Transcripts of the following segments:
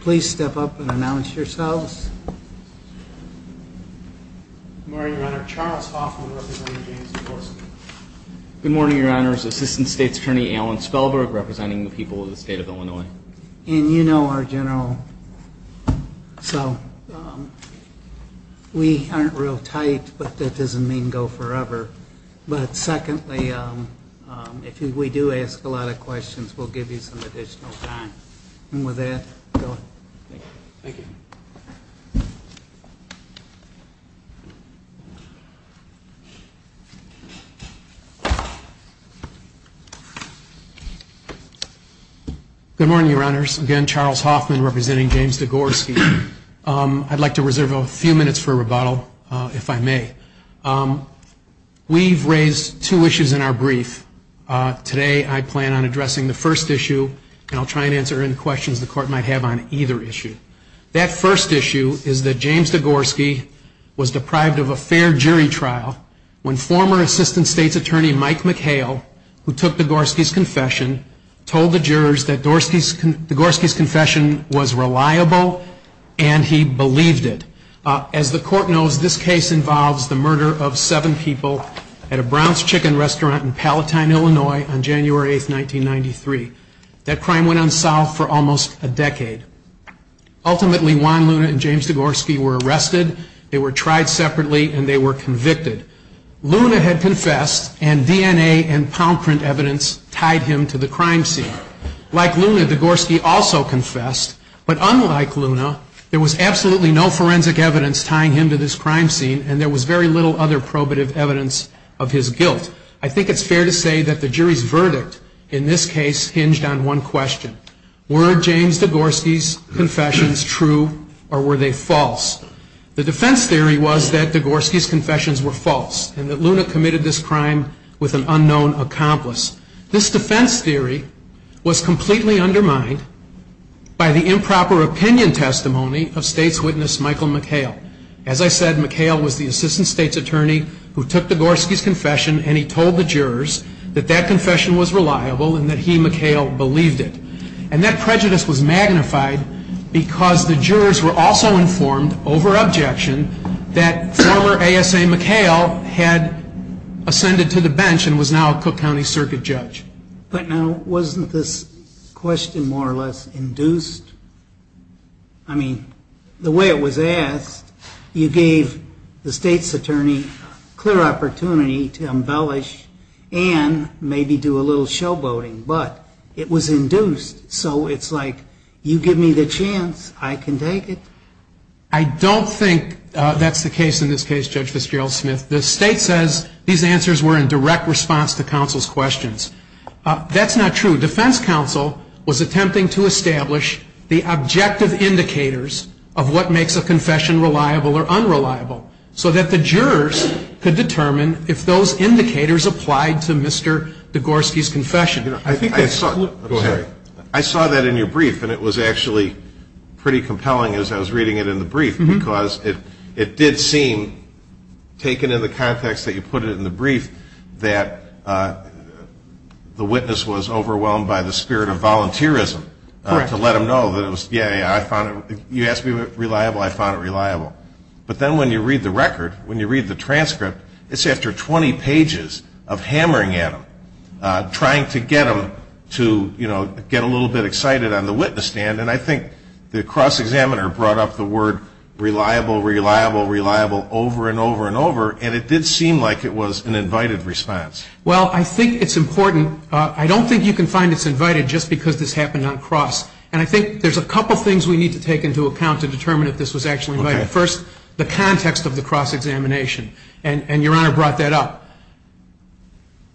Please step up and announce yourselves. Good morning, Your Honor. Charles Hoffman, representing James Degorski. Good morning, Your Honor. Assistant State's Attorney Alan Spellberg, representing the people of the state of Illinois. And you know our General, so we aren't real tight, but that doesn't mean go forever. But secondly, if we do ask a lot of questions, we'll give you some additional time. And with that, go ahead. Thank you. Good morning, Your Honors. Again, Charles Hoffman, representing James Degorski. I'd like to reserve a few minutes for rebuttal, if I may. We've raised two issues in our brief. Today, I plan on addressing the first issue, and I'll try and answer any questions the Court might have on either issue. That first issue is that James Degorski was deprived of a fair jury trial when former Assistant State's Attorney Mike McHale, who took Degorski's confession, told the jurors that Degorski's confession was reliable and he believed it. As the Court knows, this case involves the murder of seven people at a Brown's Chicken restaurant in Palatine, Illinois, on January 8, 1993. That crime went unsolved for almost a decade. Ultimately, Juan Luna and James Degorski were arrested, they were tried separately, and they were convicted. Luna had confessed, and DNA and palm print evidence tied him to the crime scene. Like Luna, Degorski also confessed. But unlike Luna, there was absolutely no forensic evidence tying him to this crime scene, and there was very little other probative evidence of his guilt. I think it's fair to say that the jury's verdict in this case hinged on one question. Were James Degorski's confessions true, or were they false? The defense theory was that Degorski's confessions were false, and that Luna committed this crime with an unknown accomplice. This defense theory was completely undermined by the improper opinion testimony of State's witness Michael McHale. As I said, McHale was the Assistant State's Attorney who took Degorski's confession, and he told the jurors that that confession was reliable and that he, McHale, believed it. And that prejudice was magnified because the jurors were also informed, over objection, that former ASA McHale had ascended to the bench and was now a Cook County Circuit Judge. But now, wasn't this question more or less induced? I mean, the way it was asked, you gave the State's Attorney clear opportunity to embellish and maybe do a little showboating, but it was induced, so it's like, you give me the chance, I can take it. I don't think that's the case in this case, Judge Fitzgerald-Smith. The State says these answers were in direct response to counsel's questions. That's not true. Defense counsel was attempting to establish the objective indicators of what makes a confession reliable or unreliable, so that the jurors could determine if those indicators applied to Mr. Degorski's confession. Go ahead. I saw that in your brief, and it was actually pretty compelling as I was reading it in the brief, because it did seem, taken in the context that you put it in the brief, that the witness was overwhelmed by the spirit of volunteerism to let him know that it was, yeah, yeah, I found it, you asked me if it was reliable, I found it reliable. But then when you read the record, when you read the transcript, it's after 20 pages of hammering at him, trying to get him to, you know, get a little bit excited on the witness stand, and I think the cross-examiner brought up the word reliable, reliable, reliable over and over and over, and it did seem like it was an invited response. Well, I think it's important. I don't think you can find it's invited just because this happened on cross, and I think there's a couple things we need to take into account to determine if this was actually invited. First, the context of the cross-examination, and your Honor brought that up.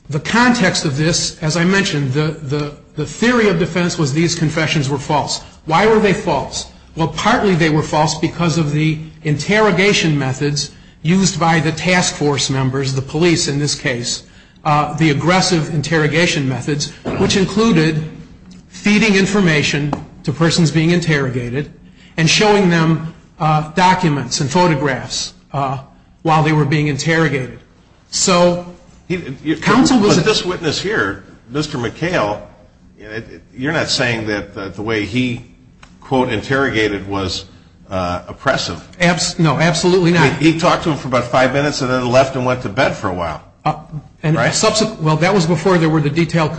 The context of this, as I mentioned, the theory of defense was these confessions were false. Why were they false? Well, partly they were false because of the interrogation methods used by the task force members, the police in this case, the aggressive interrogation methods, which included feeding information to persons being interrogated and showing them documents and photographs while they were being interrogated. But this witness here, Mr. McHale, you're not saying that the way he, quote, interrogated was oppressive. No, absolutely not. He talked to him for about five minutes and then left and went to bed for a while. Well, that was before there were the detailed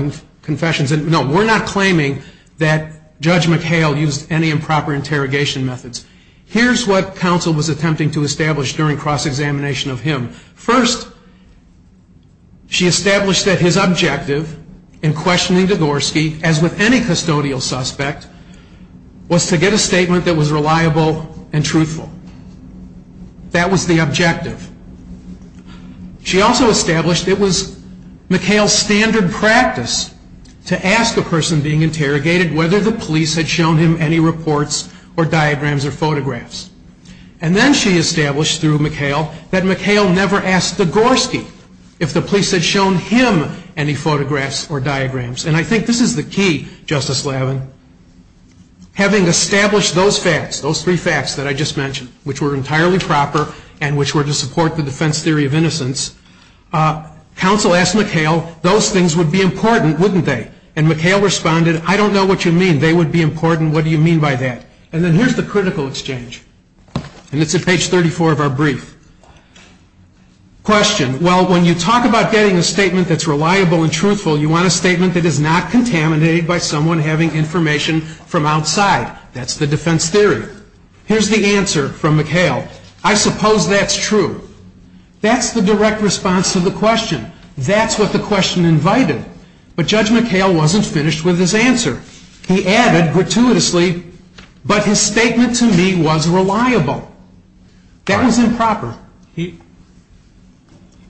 confessions. No, we're not claiming that Judge McHale used any improper interrogation methods. Here's what counsel was attempting to establish during cross-examination of him. First, she established that his objective in questioning Dvorsky, as with any custodial suspect, was to get a statement that was reliable and truthful. That was the objective. She also established it was McHale's standard practice to ask a person being interrogated whether the police had shown him any reports or diagrams or photographs. And then she established, through McHale, that McHale never asked Dvorsky if the police had shown him any photographs or diagrams. And I think this is the key, Justice Lavin, having established those facts, those three facts that I just mentioned, which were entirely proper and which were to support the defense theory of innocence. Counsel asked McHale, those things would be important, wouldn't they? And McHale responded, I don't know what you mean. They would be important. What do you mean by that? And then here's the critical exchange. And it's at page 34 of our brief. Question. Well, when you talk about getting a statement that's reliable and truthful, you want a statement that is not contaminated by someone having information from outside. That's the defense theory. Here's the answer from McHale. I suppose that's true. That's the direct response to the question. That's what the question invited. But Judge McHale wasn't finished with his answer. He added gratuitously, but his statement to me was reliable. That was improper.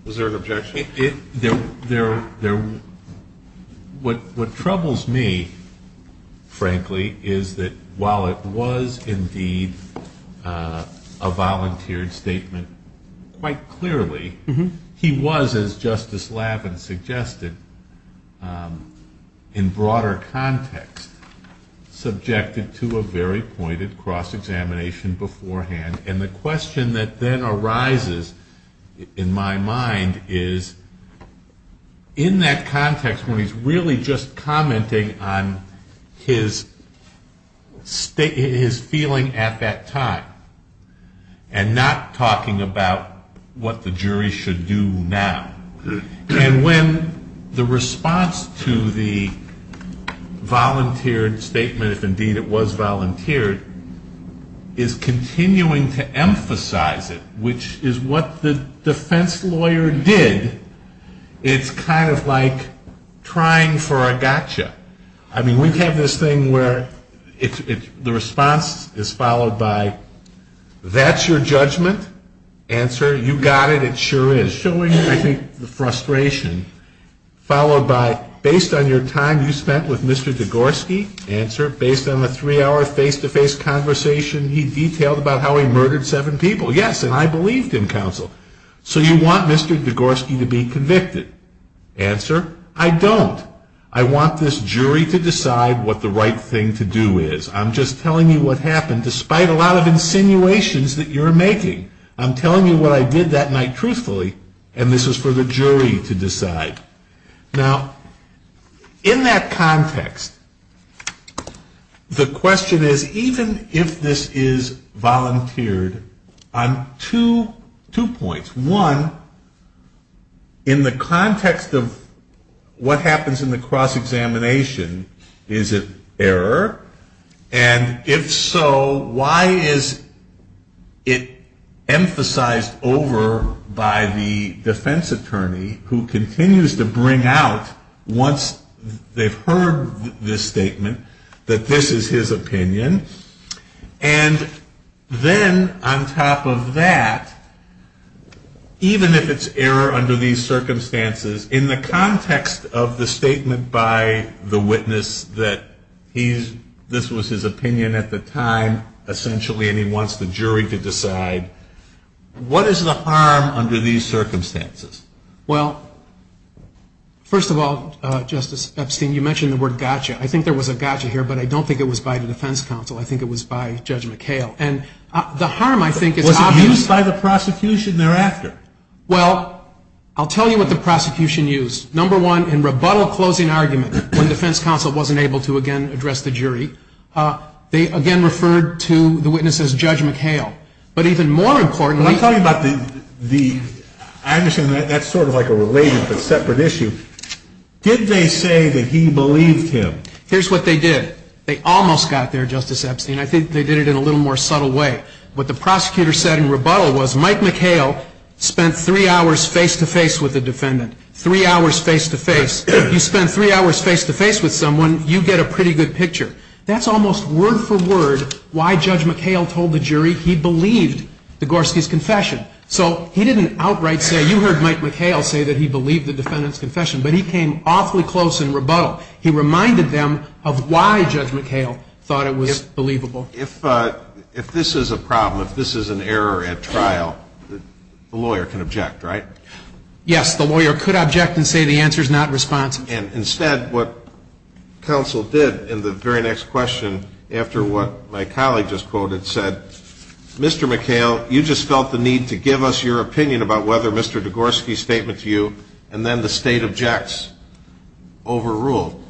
Was there an objection? What troubles me, frankly, is that while it was indeed a volunteered statement quite clearly, he was, as Justice Lavin suggested, in broader context, subjected to a very pointed cross-examination beforehand. And the question that then arises in my mind is, in that context, when he's really just commenting on his feeling at that time and not talking about what the jury should do now, and when the response to the volunteered statement, if indeed it was volunteered, is continuing to emphasize it, which is what the defense lawyer did, it's kind of like trying for a gotcha. I mean, we have this thing where the response is followed by, that's your judgment? Answer, you got it, it sure is. Showing, I think, the frustration. Followed by, based on your time you spent with Mr. Degorski? Answer, based on a three-hour face-to-face conversation, he detailed about how he murdered seven people. Yes, and I believed him, counsel. So you want Mr. Degorski to be convicted? Answer, I don't. I want this jury to decide what the right thing to do is. I'm just telling you what happened, despite a lot of insinuations that you're making. I'm telling you what I did that night truthfully, and this is for the jury to decide. Now, in that context, the question is, even if this is volunteered, on two points. One, in the context of what happens in the cross-examination, is it error? And if so, why is it emphasized over by the defense attorney, who continues to bring out, once they've heard this statement, that this is his opinion? And then, on top of that, even if it's error under these circumstances, in the context of the statement by the witness that this was his opinion at the time, essentially, and he wants the jury to decide, what is the harm under these circumstances? Well, first of all, Justice Epstein, you mentioned the word gotcha. I think there was a gotcha here, but I don't think it was by the defense counsel. I think it was by Judge McHale, and the harm, I think, is obvious. Was it used by the prosecution thereafter? Well, I'll tell you what the prosecution used. Number one, in rebuttal closing argument, when defense counsel wasn't able to, again, address the jury, they, again, referred to the witness as Judge McHale. But even more importantly — I'm talking about the — I understand that's sort of like a related but separate issue. Did they say that he believed him? Here's what they did. They almost got there, Justice Epstein. I think they did it in a little more subtle way. What the prosecutor said in rebuttal was Mike McHale spent three hours face-to-face with the defendant, three hours face-to-face. If you spend three hours face-to-face with someone, you get a pretty good picture. That's almost word-for-word why Judge McHale told the jury he believed the Gorski's confession. So he didn't outright say — you heard Mike McHale say that he believed the defendant's confession, but he came awfully close in rebuttal. He reminded them of why Judge McHale thought it was believable. If this is a problem, if this is an error at trial, the lawyer can object, right? Yes. The lawyer could object and say the answer is not responsible. And instead what counsel did in the very next question after what my colleague just quoted said, Mr. McHale, you just felt the need to give us your opinion about whether Mr. Gorski's statement to you and then the State objects overruled.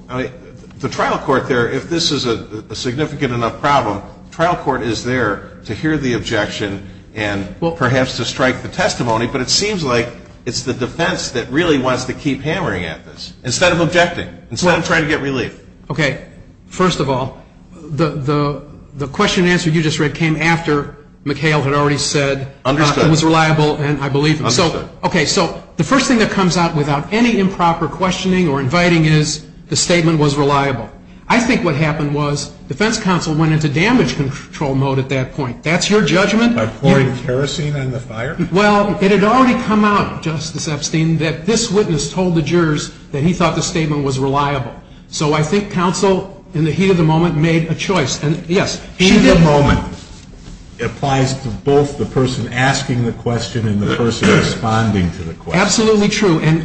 The trial court there, if this is a significant enough problem, the trial court is there to hear the objection and perhaps to strike the testimony, but it seems like it's the defense that really wants to keep hammering at this instead of objecting, instead of trying to get relief. Okay. First of all, the question and answer you just read came after McHale had already said it was reliable and I believe him. Understood. Okay. So the first thing that comes out without any improper questioning or inviting is the statement was reliable. I think what happened was defense counsel went into damage control mode at that point. That's your judgment? By pouring kerosene on the fire? Well, it had already come out, Justice Epstein, that this witness told the jurors that he thought the statement was reliable. So I think counsel in the heat of the moment made a choice. In the moment applies to both the person asking the question and the person responding to the question. Absolutely true. And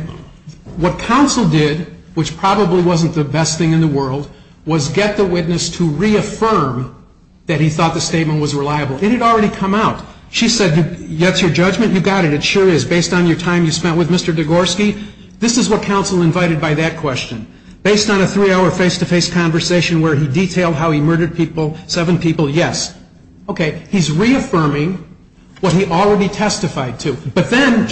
what counsel did, which probably wasn't the best thing in the world, was get the witness to reaffirm that he thought the statement was reliable. It had already come out. She said, that's your judgment? You got it. It sure is. Based on your time you spent with Mr. Degorski, this is what counsel invited by that question. Based on a three-hour face-to-face conversation where he detailed how he murdered people, seven people, yes. Okay. He's reaffirming what he already testified to. Responding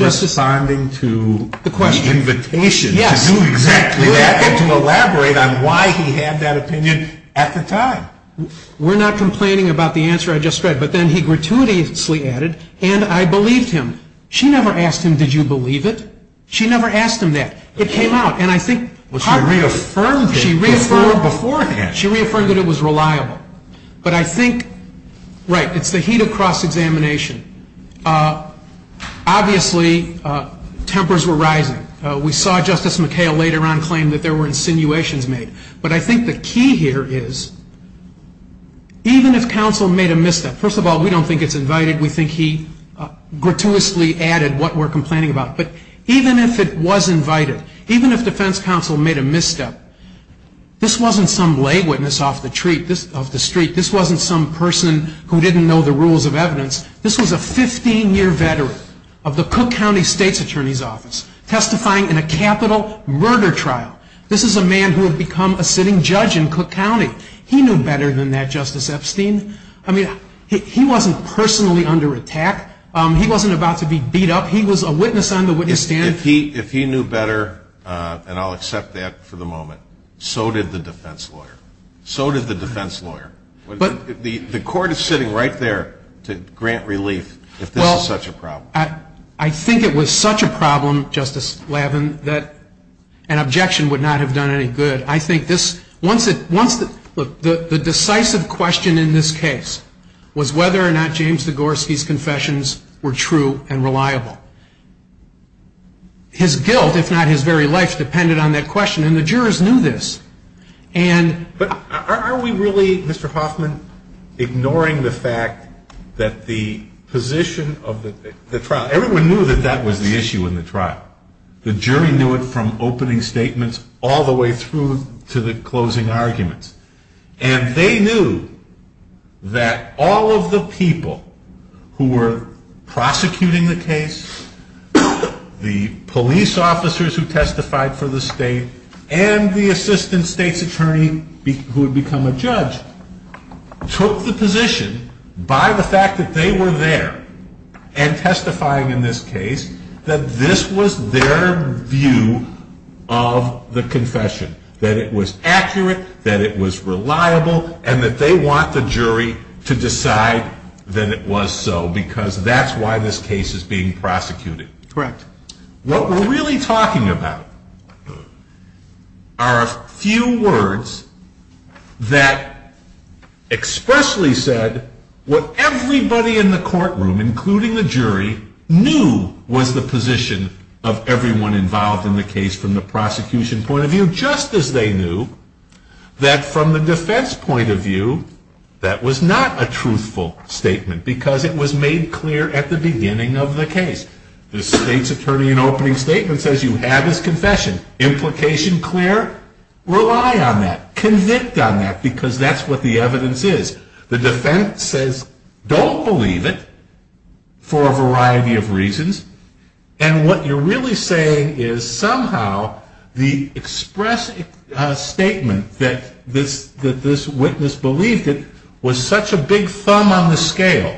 to the invitation to do exactly that and to elaborate on why he had that opinion at the time. We're not complaining about the answer I just read. But then he gratuitously added, and I believed him. She never asked him, did you believe it? She never asked him that. It came out. Well, she reaffirmed it beforehand. She reaffirmed that it was reliable. But I think, right, it's the heat of cross-examination. Obviously, tempers were rising. We saw Justice McHale later on claim that there were insinuations made. But I think the key here is, even if counsel made a misstep, first of all, we don't think it's invited. We think he gratuitously added what we're complaining about. But even if it was invited, even if defense counsel made a misstep, this wasn't some lay witness off the street. This wasn't some person who didn't know the rules of evidence. This was a 15-year veteran of the Cook County State's Attorney's Office testifying in a capital murder trial. This is a man who had become a sitting judge in Cook County. He knew better than that, Justice Epstein. I mean, he wasn't personally under attack. He wasn't about to be beat up. He was a witness on the witness stand. If he knew better, and I'll accept that for the moment, so did the defense lawyer. So did the defense lawyer. The court is sitting right there to grant relief if this is such a problem. Well, I think it was such a problem, Justice Lavin, that an objection would not have done any good. The decisive question in this case was whether or not James Degorski's confessions were true and reliable. His guilt, if not his very life, depended on that question, and the jurors knew this. But are we really, Mr. Hoffman, ignoring the fact that the position of the trial, everyone knew that that was the issue in the trial. The jury knew it from opening statements all the way through to the closing arguments. And they knew that all of the people who were prosecuting the case, the police officers who testified for the state, and the assistant state's attorney who had become a judge, took the position by the fact that they were there and testifying in this case that this was their view of the confession, that it was accurate, that it was reliable, and that they want the jury to decide that it was so, because that's why this case is being prosecuted. Correct. What we're really talking about are a few words that expressly said what everybody in the courtroom, including the jury, knew was the position of everyone involved in the case from the prosecution point of view, just as they knew that from the defense point of view, that was not a truthful statement, because it was made clear at the beginning of the case. The state's attorney in opening statement says you have his confession. Implication clear? Rely on that. Convict on that, because that's what the evidence is. The defense says don't believe it for a variety of reasons. And what you're really saying is somehow the express statement that this witness believed it was such a big thumb on the scale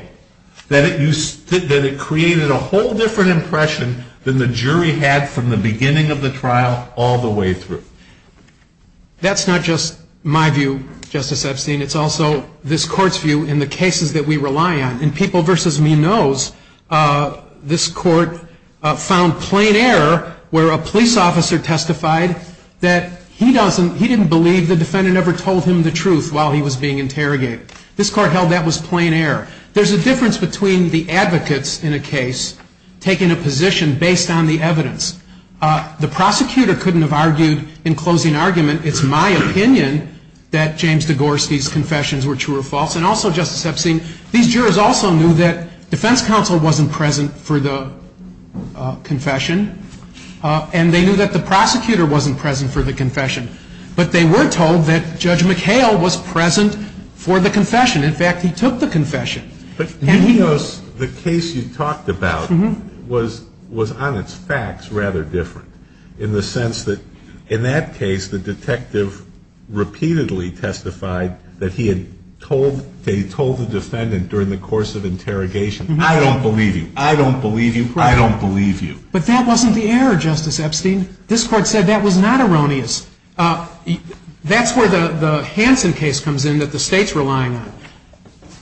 that it created a whole different impression than the jury had from the beginning of the trial all the way through. That's not just my view, Justice Epstein. It's also this court's view in the cases that we rely on. In People v. Me Knows, this court found plain error where a police officer testified that he didn't believe the defendant ever told him the truth while he was being interrogated. This court held that was plain error. There's a difference between the advocates in a case taking a position based on the evidence. The prosecutor couldn't have argued in closing argument. It's my opinion that James Degorski's confessions were true or false. And also, Justice Epstein, these jurors also knew that defense counsel wasn't present for the confession. And they knew that the prosecutor wasn't present for the confession. But they were told that Judge McHale was present for the confession. In fact, he took the confession. But Me Knows, the case you talked about, was on its facts rather different in the sense that in that case, the detective repeatedly testified that he had told the defendant during the course of interrogation, I don't believe you. I don't believe you. I don't believe you. But that wasn't the error, Justice Epstein. This court said that was not erroneous. That's where the Hansen case comes in that the state's relying on.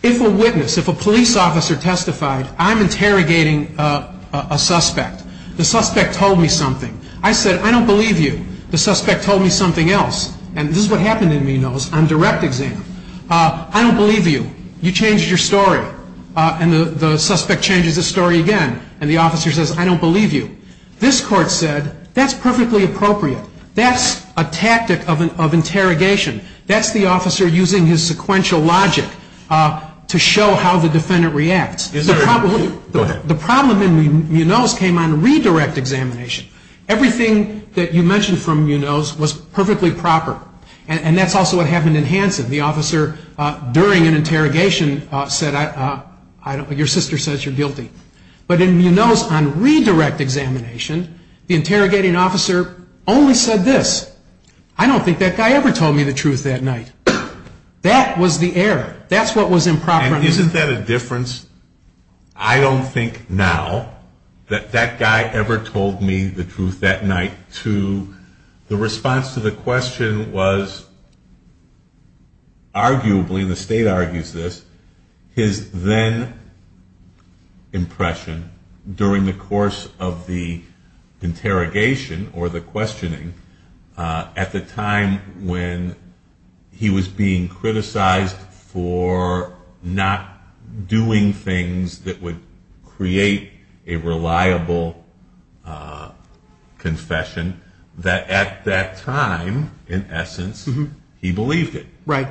If a witness, if a police officer testified, I'm interrogating a suspect. The suspect told me something. I said, I don't believe you. The suspect told me something else. And this is what happened in Me Knows on direct exam. I don't believe you. You changed your story. And the suspect changes his story again. And the officer says, I don't believe you. This court said, that's perfectly appropriate. That's a tactic of interrogation. That's the officer using his sequential logic to show how the defendant reacts. Go ahead. The problem in Me Knows came on redirect examination. Everything that you mentioned from Me Knows was perfectly proper. And that's also what happened in Hansen. The officer during an interrogation said, your sister says you're guilty. But in Me Knows on redirect examination, the interrogating officer only said this. I don't think that guy ever told me the truth that night. That was the error. That's what was improper. And isn't that a difference? I don't think now that that guy ever told me the truth that night. The response to the question was arguably, and the state argues this, his then impression during the course of the interrogation or the questioning at the time when he was being criticized for not doing things that would create a reliable confession, that at that time, in essence, he believed it. Right.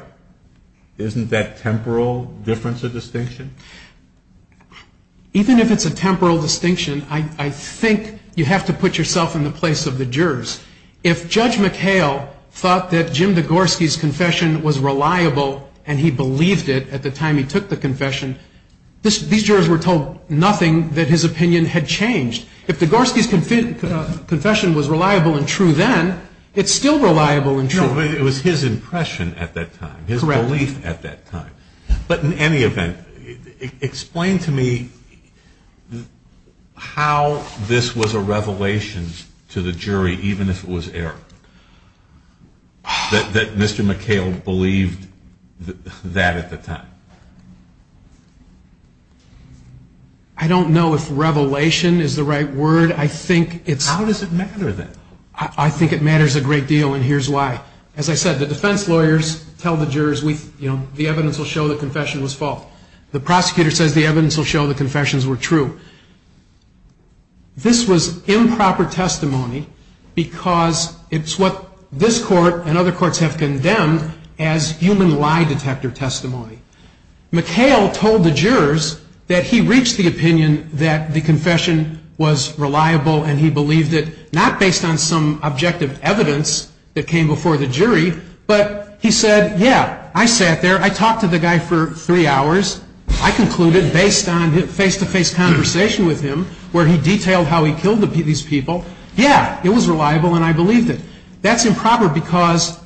Isn't that temporal difference a distinction? Even if it's a temporal distinction, I think you have to put yourself in the place of the jurors. If Judge McHale thought that Jim Degorski's confession was reliable and he believed it at the time he took the confession, these jurors were told nothing that his opinion had changed. If Degorski's confession was reliable and true then, it's still reliable and true. No, but it was his impression at that time, his belief at that time. Correct. But in any event, explain to me how this was a revelation to the jury, even if it was error, that Mr. McHale believed that at the time. I don't know if revelation is the right word. How does it matter then? I think it matters a great deal, and here's why. As I said, the defense lawyers tell the jurors the evidence will show the confession was false. The prosecutor says the evidence will show the confessions were true. This was improper testimony because it's what this court and other courts have condemned as human lie detector testimony. McHale told the jurors that he reached the opinion that the confession was reliable and he believed it, not based on some objective evidence that came before the jury, but he said, yeah, I sat there, I talked to the guy for three hours, I concluded based on face-to-face conversation with him where he detailed how he killed these people, yeah, it was reliable and I believed it. That's improper because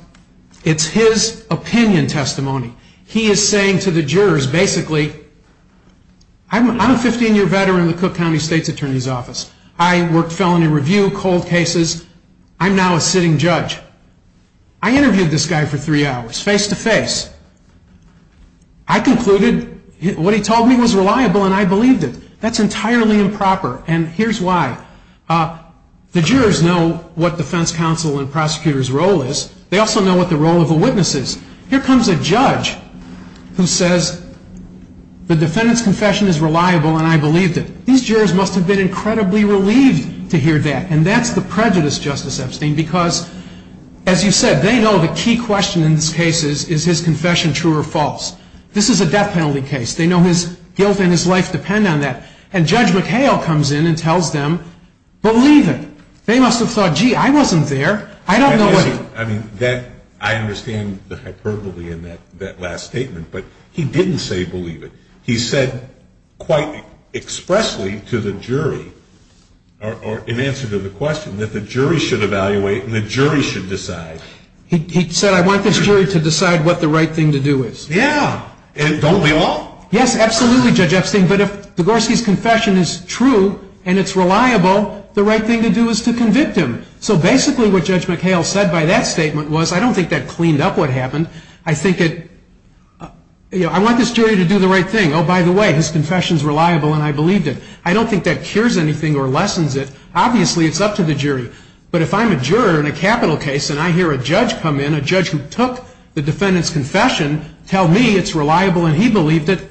it's his opinion testimony. He is saying to the jurors, basically, I'm a 15-year veteran of the Cook County State's Attorney's Office. I worked felony review, cold cases. I'm now a sitting judge. I interviewed this guy for three hours, face-to-face. I concluded what he told me was reliable and I believed it. That's entirely improper, and here's why. The jurors know what defense counsel and prosecutor's role is. They also know what the role of the witness is. Here comes a judge who says the defendant's confession is reliable and I believed it. These jurors must have been incredibly relieved to hear that, and that's the prejudice, Justice Epstein, because, as you said, they know the key question in this case is, is his confession true or false? This is a death penalty case. They know his guilt and his life depend on that, and Judge McHale comes in and tells them, believe it. They must have thought, gee, I wasn't there. I don't know what he was saying. I understand the hyperbole in that last statement, but he didn't say believe it. He said quite expressly to the jury, or in answer to the question, that the jury should evaluate and the jury should decide. He said, I want this jury to decide what the right thing to do is. Yeah. Don't we all? Yes, absolutely, Judge Epstein, but if Degorski's confession is true and it's reliable, the right thing to do is to convict him. So basically what Judge McHale said by that statement was, I don't think that cleaned up what happened. I think it, you know, I want this jury to do the right thing. Oh, by the way, his confession's reliable and I believed it. I don't think that cures anything or lessens it. Obviously, it's up to the jury, but if I'm a juror in a capital case and I hear a judge come in, a judge who took the defendant's confession, tell me it's reliable and he believed it,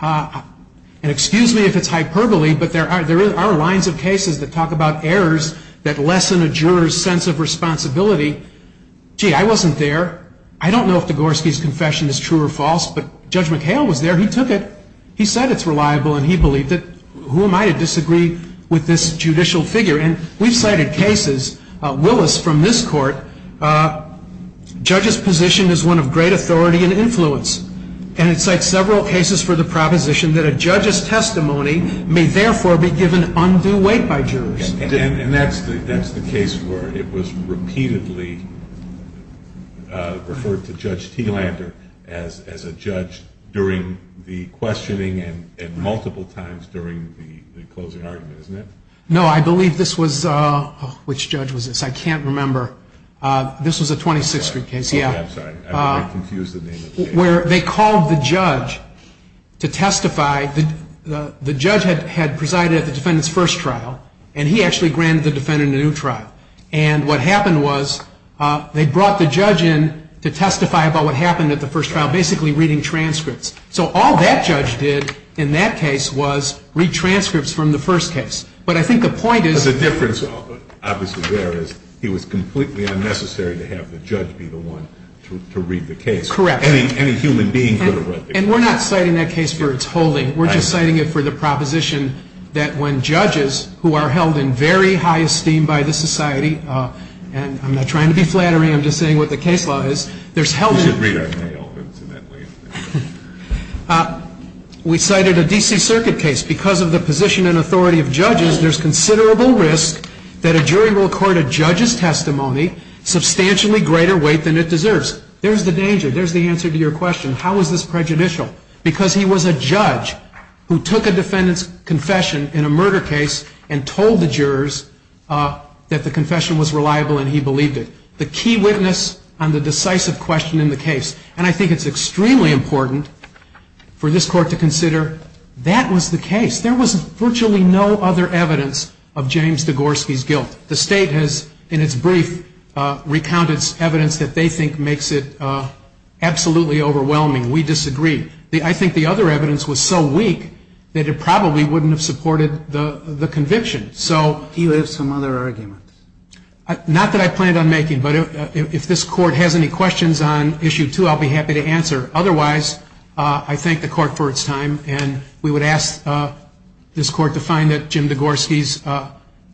and excuse me if it's hyperbole, but there are lines of cases that talk about errors that lessen a juror's sense of responsibility. Gee, I wasn't there. I don't know if Degorski's confession is true or false, but Judge McHale was there. He took it. He said it's reliable and he believed it. Who am I to disagree with this judicial figure? And we've cited cases, Willis from this court, judges' position is one of great authority and influence, and it cites several cases for the proposition that a judge's testimony may therefore be given undue weight by jurors. And that's the case where it was repeatedly referred to Judge Teelander as a judge during the questioning and multiple times during the closing argument, isn't it? No, I believe this was, which judge was this? I can't remember. This was a 26th Street case. I'm sorry. I confused the name of the case. Where they called the judge to testify. The judge had presided at the defendant's first trial, and he actually granted the defendant a new trial. And what happened was they brought the judge in to testify about what happened at the first trial, basically reading transcripts. So all that judge did in that case was read transcripts from the first case. But I think the point is the difference obviously there is he was completely unnecessary to have the judge be the one to read the case. Correct. Any human being could have read the case. And we're not citing that case for its holding. We're just citing it for the proposition that when judges who are held in very high esteem by the society, and I'm not trying to be flattery. I'm just saying what the case law is. We should read our mail, incidentally. We cited a D.C. Circuit case. Because of the position and authority of judges, there's considerable risk that a jury will court a judge's testimony substantially greater weight than it deserves. There's the danger. There's the answer to your question. How is this prejudicial? Because he was a judge who took a defendant's confession in a murder case and told the jurors that the confession was reliable and he believed it. The key witness on the decisive question in the case. And I think it's extremely important for this court to consider that was the case. The state has, in its brief, recounted evidence that they think makes it absolutely overwhelming. We disagree. I think the other evidence was so weak that it probably wouldn't have supported the conviction. Do you have some other arguments? Not that I planned on making. But if this court has any questions on Issue 2, I'll be happy to answer. Otherwise, I thank the court for its time. And we would ask this court to find that Jim Degorski's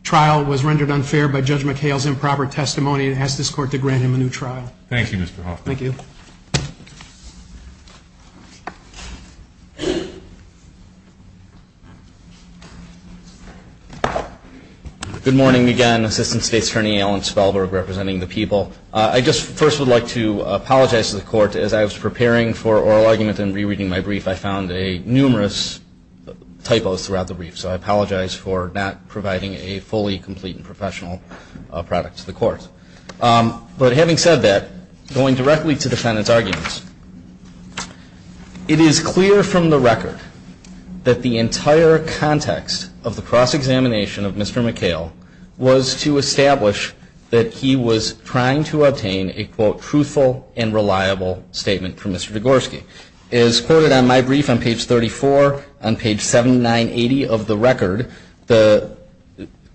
trial was rendered unfair by Judge McHale's improper testimony and ask this court to grant him a new trial. Thank you, Mr. Hoffman. Thank you. Good morning again. Assistant State's Attorney Alan Spellberg representing the people. I just first would like to apologize to the court. As I was preparing for oral argument and rereading my brief, I found numerous typos throughout the brief. So I apologize for not providing a fully complete and professional product to the court. But having said that, going directly to the defendant's arguments, it is clear from the record that the entire context of the cross-examination of Mr. McHale was to establish that he was trying to obtain a, quote, truthful and reliable statement from Mr. Degorski. As quoted on my brief on page 34, on page 7980 of the record, the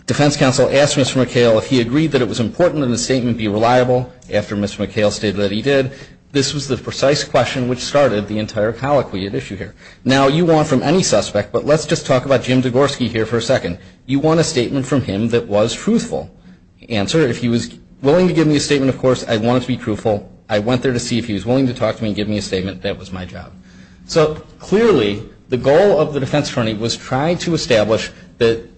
defense counsel asked Mr. McHale if he agreed that it was important that the statement be reliable after Mr. McHale stated that he did. This was the precise question which started the entire colloquy at issue here. Now, you want from any suspect, but let's just talk about Jim Degorski here for a second. You want a statement from him that was truthful. The answer, if he was willing to give me a statement, of course, I want it to be truthful. I went there to see if he was willing to talk to me and give me a statement. That was my job. So clearly, the goal of the defense attorney was trying to establish that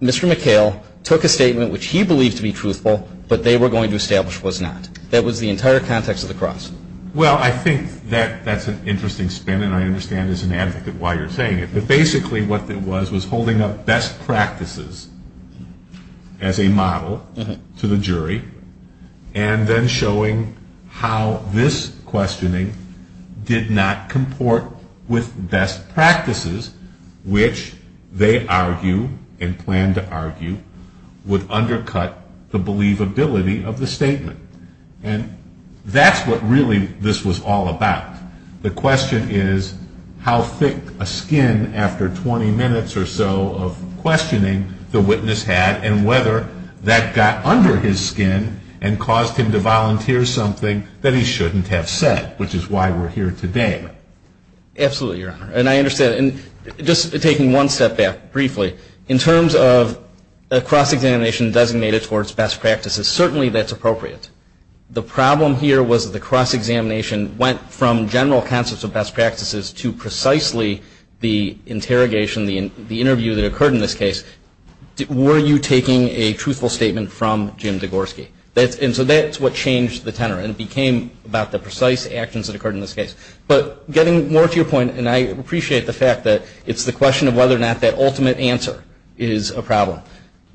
Mr. McHale took a statement which he believed to be truthful, but they were going to establish was not. That was the entire context of the cross. Well, I think that that's an interesting spin, and I understand as an advocate why you're saying it. But basically what it was was holding up best practices as a model to the jury and then showing how this questioning did not comport with best practices, which they argue and plan to argue would undercut the believability of the statement. And that's what really this was all about. The question is how thick a skin after 20 minutes or so of questioning the witness had and whether that got under his skin and caused him to volunteer something that he shouldn't have said, which is why we're here today. Absolutely, Your Honor. And I understand. And just taking one step back briefly, in terms of a cross-examination designated towards best practices, certainly that's appropriate. The problem here was that the cross-examination went from general concepts of best practices to precisely the interrogation, the interview that occurred in this case. Were you taking a truthful statement from Jim Degorski? And so that's what changed the tenor, and it became about the precise actions that occurred in this case. But getting more to your point, and I appreciate the fact that it's the question of whether or not that ultimate answer is a problem.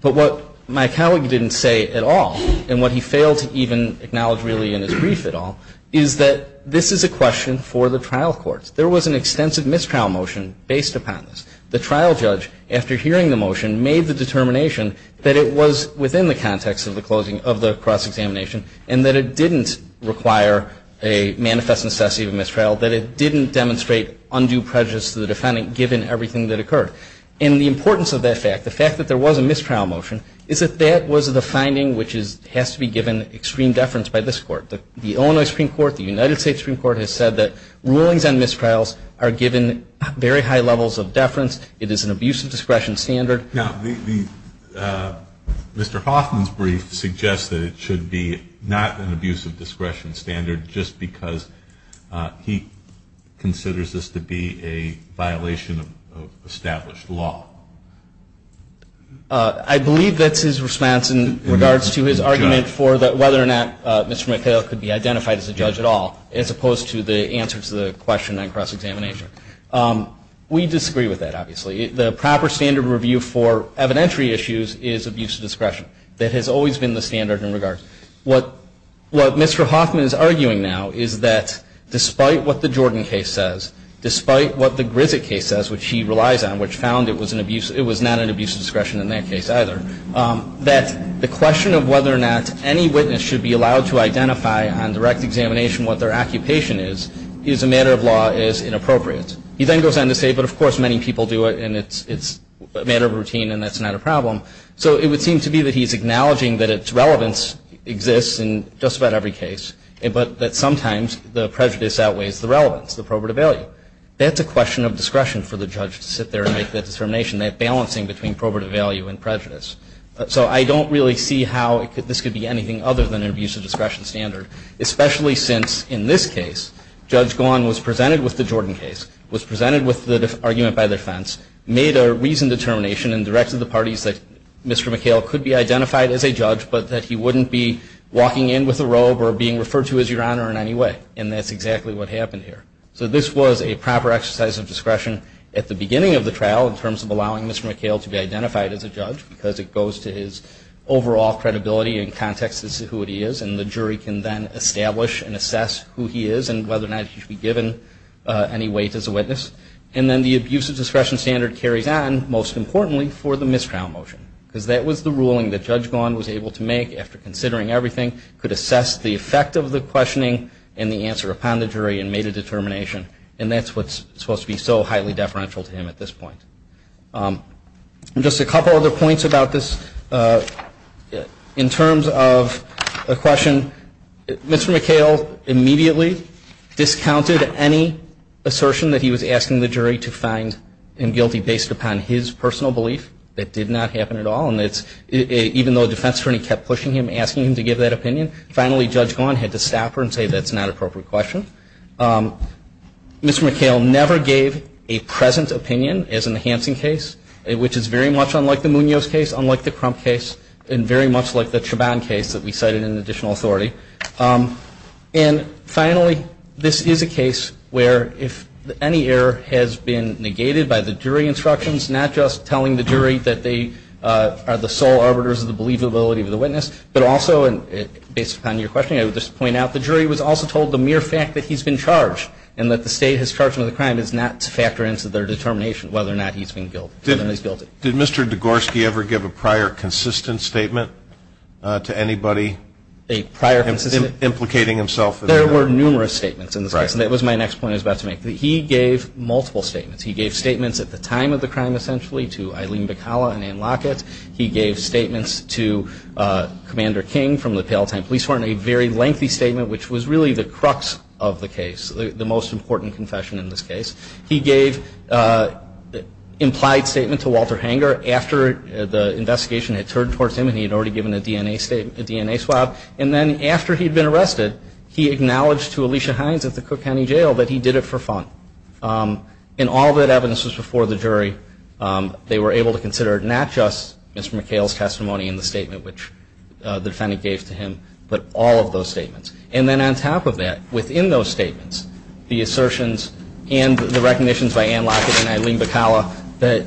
But what my colleague didn't say at all, and what he failed to even acknowledge really in his brief at all, is that this is a question for the trial courts. There was an extensive mistrial motion based upon this. The trial judge, after hearing the motion, made the determination that it was within the context of the closing of the cross-examination and that it didn't require a manifest necessity of mistrial, that it didn't demonstrate undue prejudice to the defendant given everything that occurred. And the importance of that fact, the fact that there was a mistrial motion, is that that was the finding which has to be given extreme deference by this court. The Illinois Supreme Court, the United States Supreme Court, has said that rulings on mistrials are given very high levels of deference. It is an abuse of discretion standard. Now, Mr. Hoffman's brief suggests that it should be not an abuse of discretion standard just because he considers this to be a violation of established law. I believe that's his response in regards to his argument for whether or not Mr. McHale could be identified as a judge at all, as opposed to the answer to the question on cross-examination. We disagree with that, obviously. The proper standard review for evidentiary issues is abuse of discretion. That has always been the standard in regards. What Mr. Hoffman is arguing now is that despite what the Jordan case says, despite what the Grissett case says, which he relies on, which found it was not an abuse of discretion in that case either, that the question of whether or not any witness should be allowed to identify on direct examination what their occupation is, is a matter of law, is inappropriate. He then goes on to say, but of course many people do it, So it would seem to be that he's acknowledging that its relevance exists in just about every case, but that sometimes the prejudice outweighs the relevance, the probative value. That's a question of discretion for the judge to sit there and make that determination, that balancing between probative value and prejudice. So I don't really see how this could be anything other than an abuse of discretion standard, especially since, in this case, Judge Gawne was presented with the Jordan case, was presented with the argument by defense, made a reasoned determination and directed the parties that Mr. McHale could be identified as a judge, but that he wouldn't be walking in with a robe or being referred to as Your Honor in any way. And that's exactly what happened here. So this was a proper exercise of discretion at the beginning of the trial in terms of allowing Mr. McHale to be identified as a judge, because it goes to his overall credibility and context as to who he is, and the jury can then establish and assess who he is and whether or not he should be given any weight as a witness. And then the abuse of discretion standard carries on, most importantly, for the mistrial motion, because that was the ruling that Judge Gawne was able to make after considering everything, could assess the effect of the questioning and the answer upon the jury and made a determination. And that's what's supposed to be so highly deferential to him at this point. Just a couple of other points about this. In terms of a question, Mr. McHale immediately discounted any assertion that he was asking the jury to find him guilty based upon his personal belief. That did not happen at all. And even though a defense attorney kept pushing him, asking him to give that opinion, finally Judge Gawne had to stop her and say that's not an appropriate question. Mr. McHale never gave a present opinion as in the Hansen case, which is very much unlike the Munoz case, unlike the Crump case, and very much like the Chabon case that we cited in additional authority. And finally, this is a case where if any error has been negated by the jury instructions, not just telling the jury that they are the sole arbiters of the believability of the witness, but also based upon your question, I would just point out the jury was also told the mere fact that he's been charged and that the state has charged him with a crime is not to factor into their determination whether or not he's been guilty. Did Mr. Degorski ever give a prior consistent statement to anybody? Implicating himself? There were numerous statements in this case. That was my next point I was about to make. He gave multiple statements. He gave statements at the time of the crime essentially to Eileen Bacala and Ann Lockett. He gave statements to Commander King from the Pale Time Police Department, a very lengthy statement which was really the crux of the case, the most important confession in this case. He gave an implied statement to Walter Hanger after the investigation had turned towards him and he had already given a DNA swab. And then after he'd been arrested, he acknowledged to Alicia Hines at the Cook County Jail that he did it for fun. And all of that evidence was before the jury. They were able to consider not just Mr. McHale's testimony in the statement, which the defendant gave to him, but all of those statements. And then on top of that, within those statements, the assertions and the recognitions by Ann Lockett and Eileen Bacala that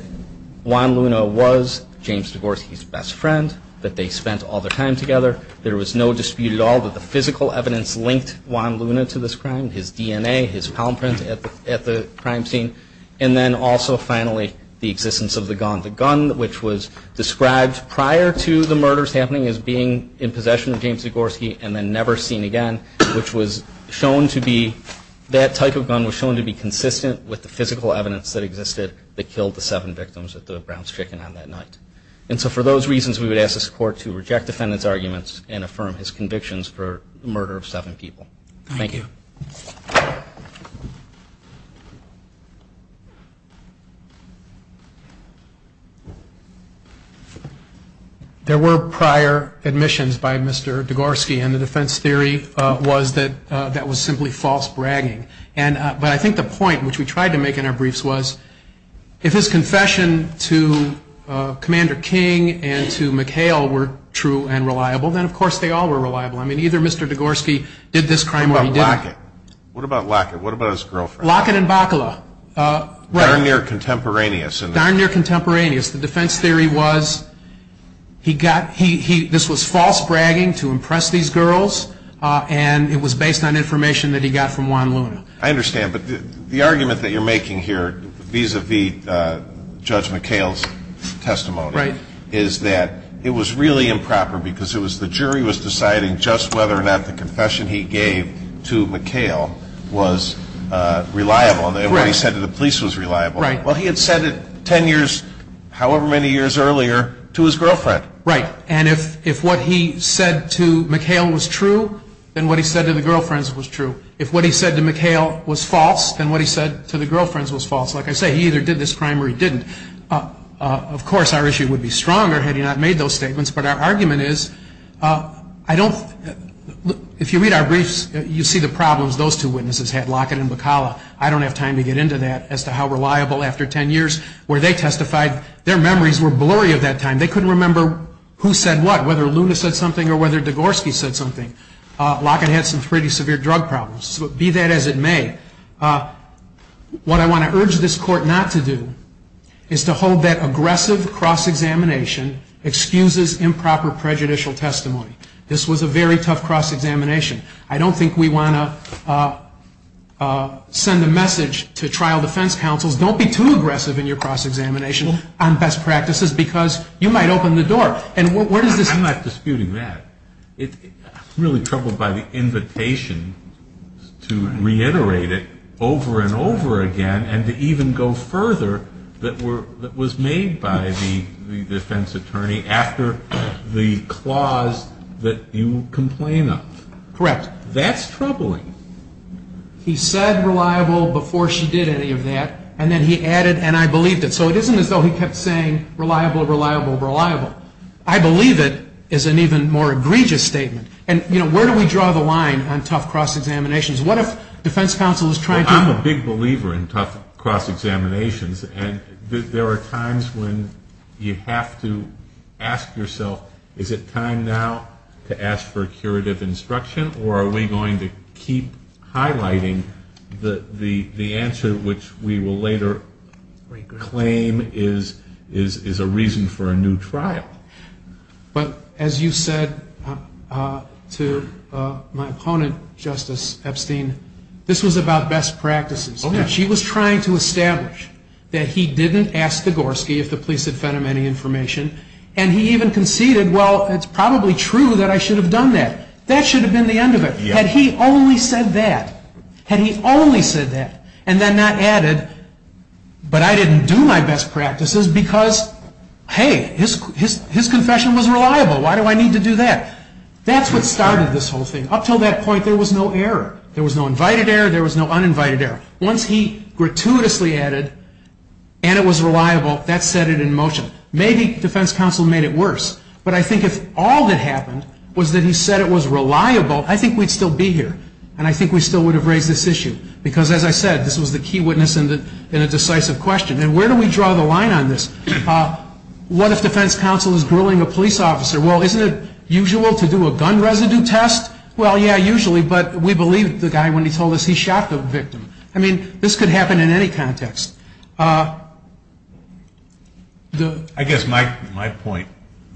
Juan Luna was James Degorski's best friend, that they spent all their time together. There was no dispute at all that the physical evidence linked Juan Luna to this crime, his DNA, his palm print at the crime scene. And then also, finally, the existence of the gun, the gun which was described prior to the murders happening as being in possession of James Degorski and then never seen again, which was shown to be, that type of gun was shown to be consistent with the physical evidence that existed that killed the seven victims at the Brown's Chicken on that night. And so for those reasons, we would ask this Court to reject the defendant's arguments and affirm his convictions for the murder of seven people. Thank you. There were prior admissions by Mr. Degorski, and the defense theory was that that was simply false bragging. But I think the point which we tried to make in our briefs was, if his confession to Commander King and to McHale were true and reliable, then of course they all were reliable. I mean, either Mr. Degorski did this crime or he didn't. What about Lockett? What about his girlfriend? Lockett and Bacala. Darn near contemporaneous. Darn near contemporaneous. The defense theory was, this was false bragging to impress these girls, and it was based on information that he got from Juan Luna. I understand. But the argument that you're making here vis-à-vis Judge McHale's testimony is that it was really improper because the jury was deciding just whether or not the confession he gave to McHale was reliable, and what he said to the police was reliable. Right. Well, he had said it ten years, however many years earlier, to his girlfriend. Right. And if what he said to McHale was true, then what he said to the girlfriends was true. If what he said to McHale was false, then what he said to the girlfriends was false. Like I say, he either did this crime or he didn't. Of course, our issue would be stronger had he not made those statements, but our argument is, I don't, if you read our briefs, you see the problems those two witnesses had, Lockett and Bacala. I don't have time to get into that as to how reliable, after ten years, were they testified. Their memories were blurry at that time. They couldn't remember who said what, whether Luna said something or whether Degorski said something. Lockett had some pretty severe drug problems. Be that as it may, what I want to urge this Court not to do is to hold that aggressive cross-examination excuses improper prejudicial testimony. This was a very tough cross-examination. I don't think we want to send a message to trial defense counsels, don't be too aggressive in your cross-examination on best practices because you might open the door. I'm not disputing that. I'm really troubled by the invitation to reiterate it over and over again and to even go further that was made by the defense attorney after the clause that you complain of. Correct. That's troubling. He said reliable before she did any of that and then he added and I believed it. So it isn't as though he kept saying reliable, reliable, reliable. I believe it is an even more egregious statement. And, you know, where do we draw the line on tough cross-examinations? What if defense counsel is trying to Well, I'm a big believer in tough cross-examinations and there are times when you have to ask yourself is it time now to ask for curative instruction or are we going to keep highlighting the answer which we will later claim is a reason for a new trial? But as you said to my opponent, Justice Epstein, this was about best practices. She was trying to establish that he didn't ask the Gorski if the police had fed him any information and he even conceded, well, it's probably true that I should have done that. That should have been the end of it. Had he only said that, had he only said that and then not added, but I didn't do my best practices because, hey, his confession was reliable. Why do I need to do that? That's what started this whole thing. Up until that point there was no error. There was no invited error. There was no uninvited error. Once he gratuitously added and it was reliable, that set it in motion. Maybe defense counsel made it worse, but I think if all that happened was that he said it was reliable, I think we'd still be here and I think we still would have raised this issue because, as I said, this was the key witness in a decisive question. And where do we draw the line on this? What if defense counsel is grilling a police officer? Well, isn't it usual to do a gun residue test? Well, yeah, usually, but we believe the guy when he told us he shot the victim. I mean, this could happen in any context. I guess my point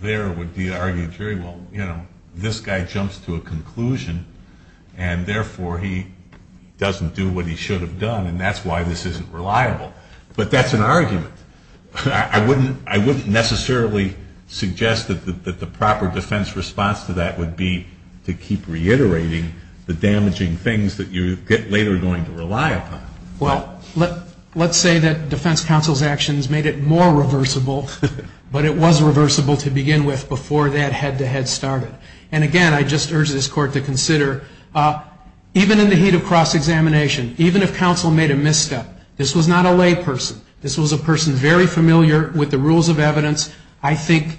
there would be to argue very well, you know, this guy jumps to a conclusion and therefore he doesn't do what he should have done and that's why this isn't reliable. But that's an argument. I wouldn't necessarily suggest that the proper defense response to that would be to keep reiterating the damaging things that you're later going to rely upon. Well, let's say that defense counsel's actions made it more reversible, but it was reversible to begin with before that head-to-head started. And, again, I just urge this Court to consider, even in the heat of cross-examination, even if counsel made a misstep, this was not a lay person. This was a person very familiar with the rules of evidence. I think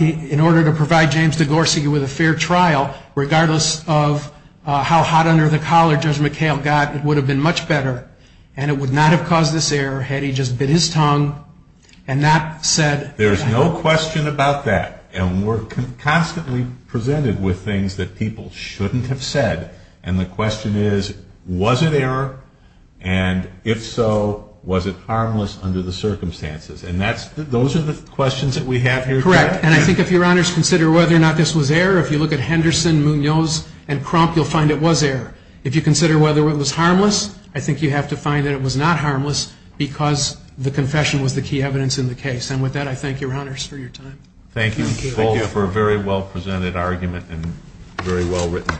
in order to provide James DeGorsey with a fair trial, regardless of how hot under the collar Judge McHale got, it would have been much better and it would not have caused this error had he just bit his tongue and not said. There's no question about that. And we're constantly presented with things that people shouldn't have said. And the question is, was it error? And, if so, was it harmless under the circumstances? And those are the questions that we have here today. Correct. And I think if Your Honors consider whether or not this was error, if you look at Henderson, Munoz, and Crump, you'll find it was error. If you consider whether it was harmless, I think you have to find that it was not harmless because the confession was the key evidence in the case. And, with that, I thank Your Honors for your time. Thank you both for a very well-presented argument and very well-written briefs.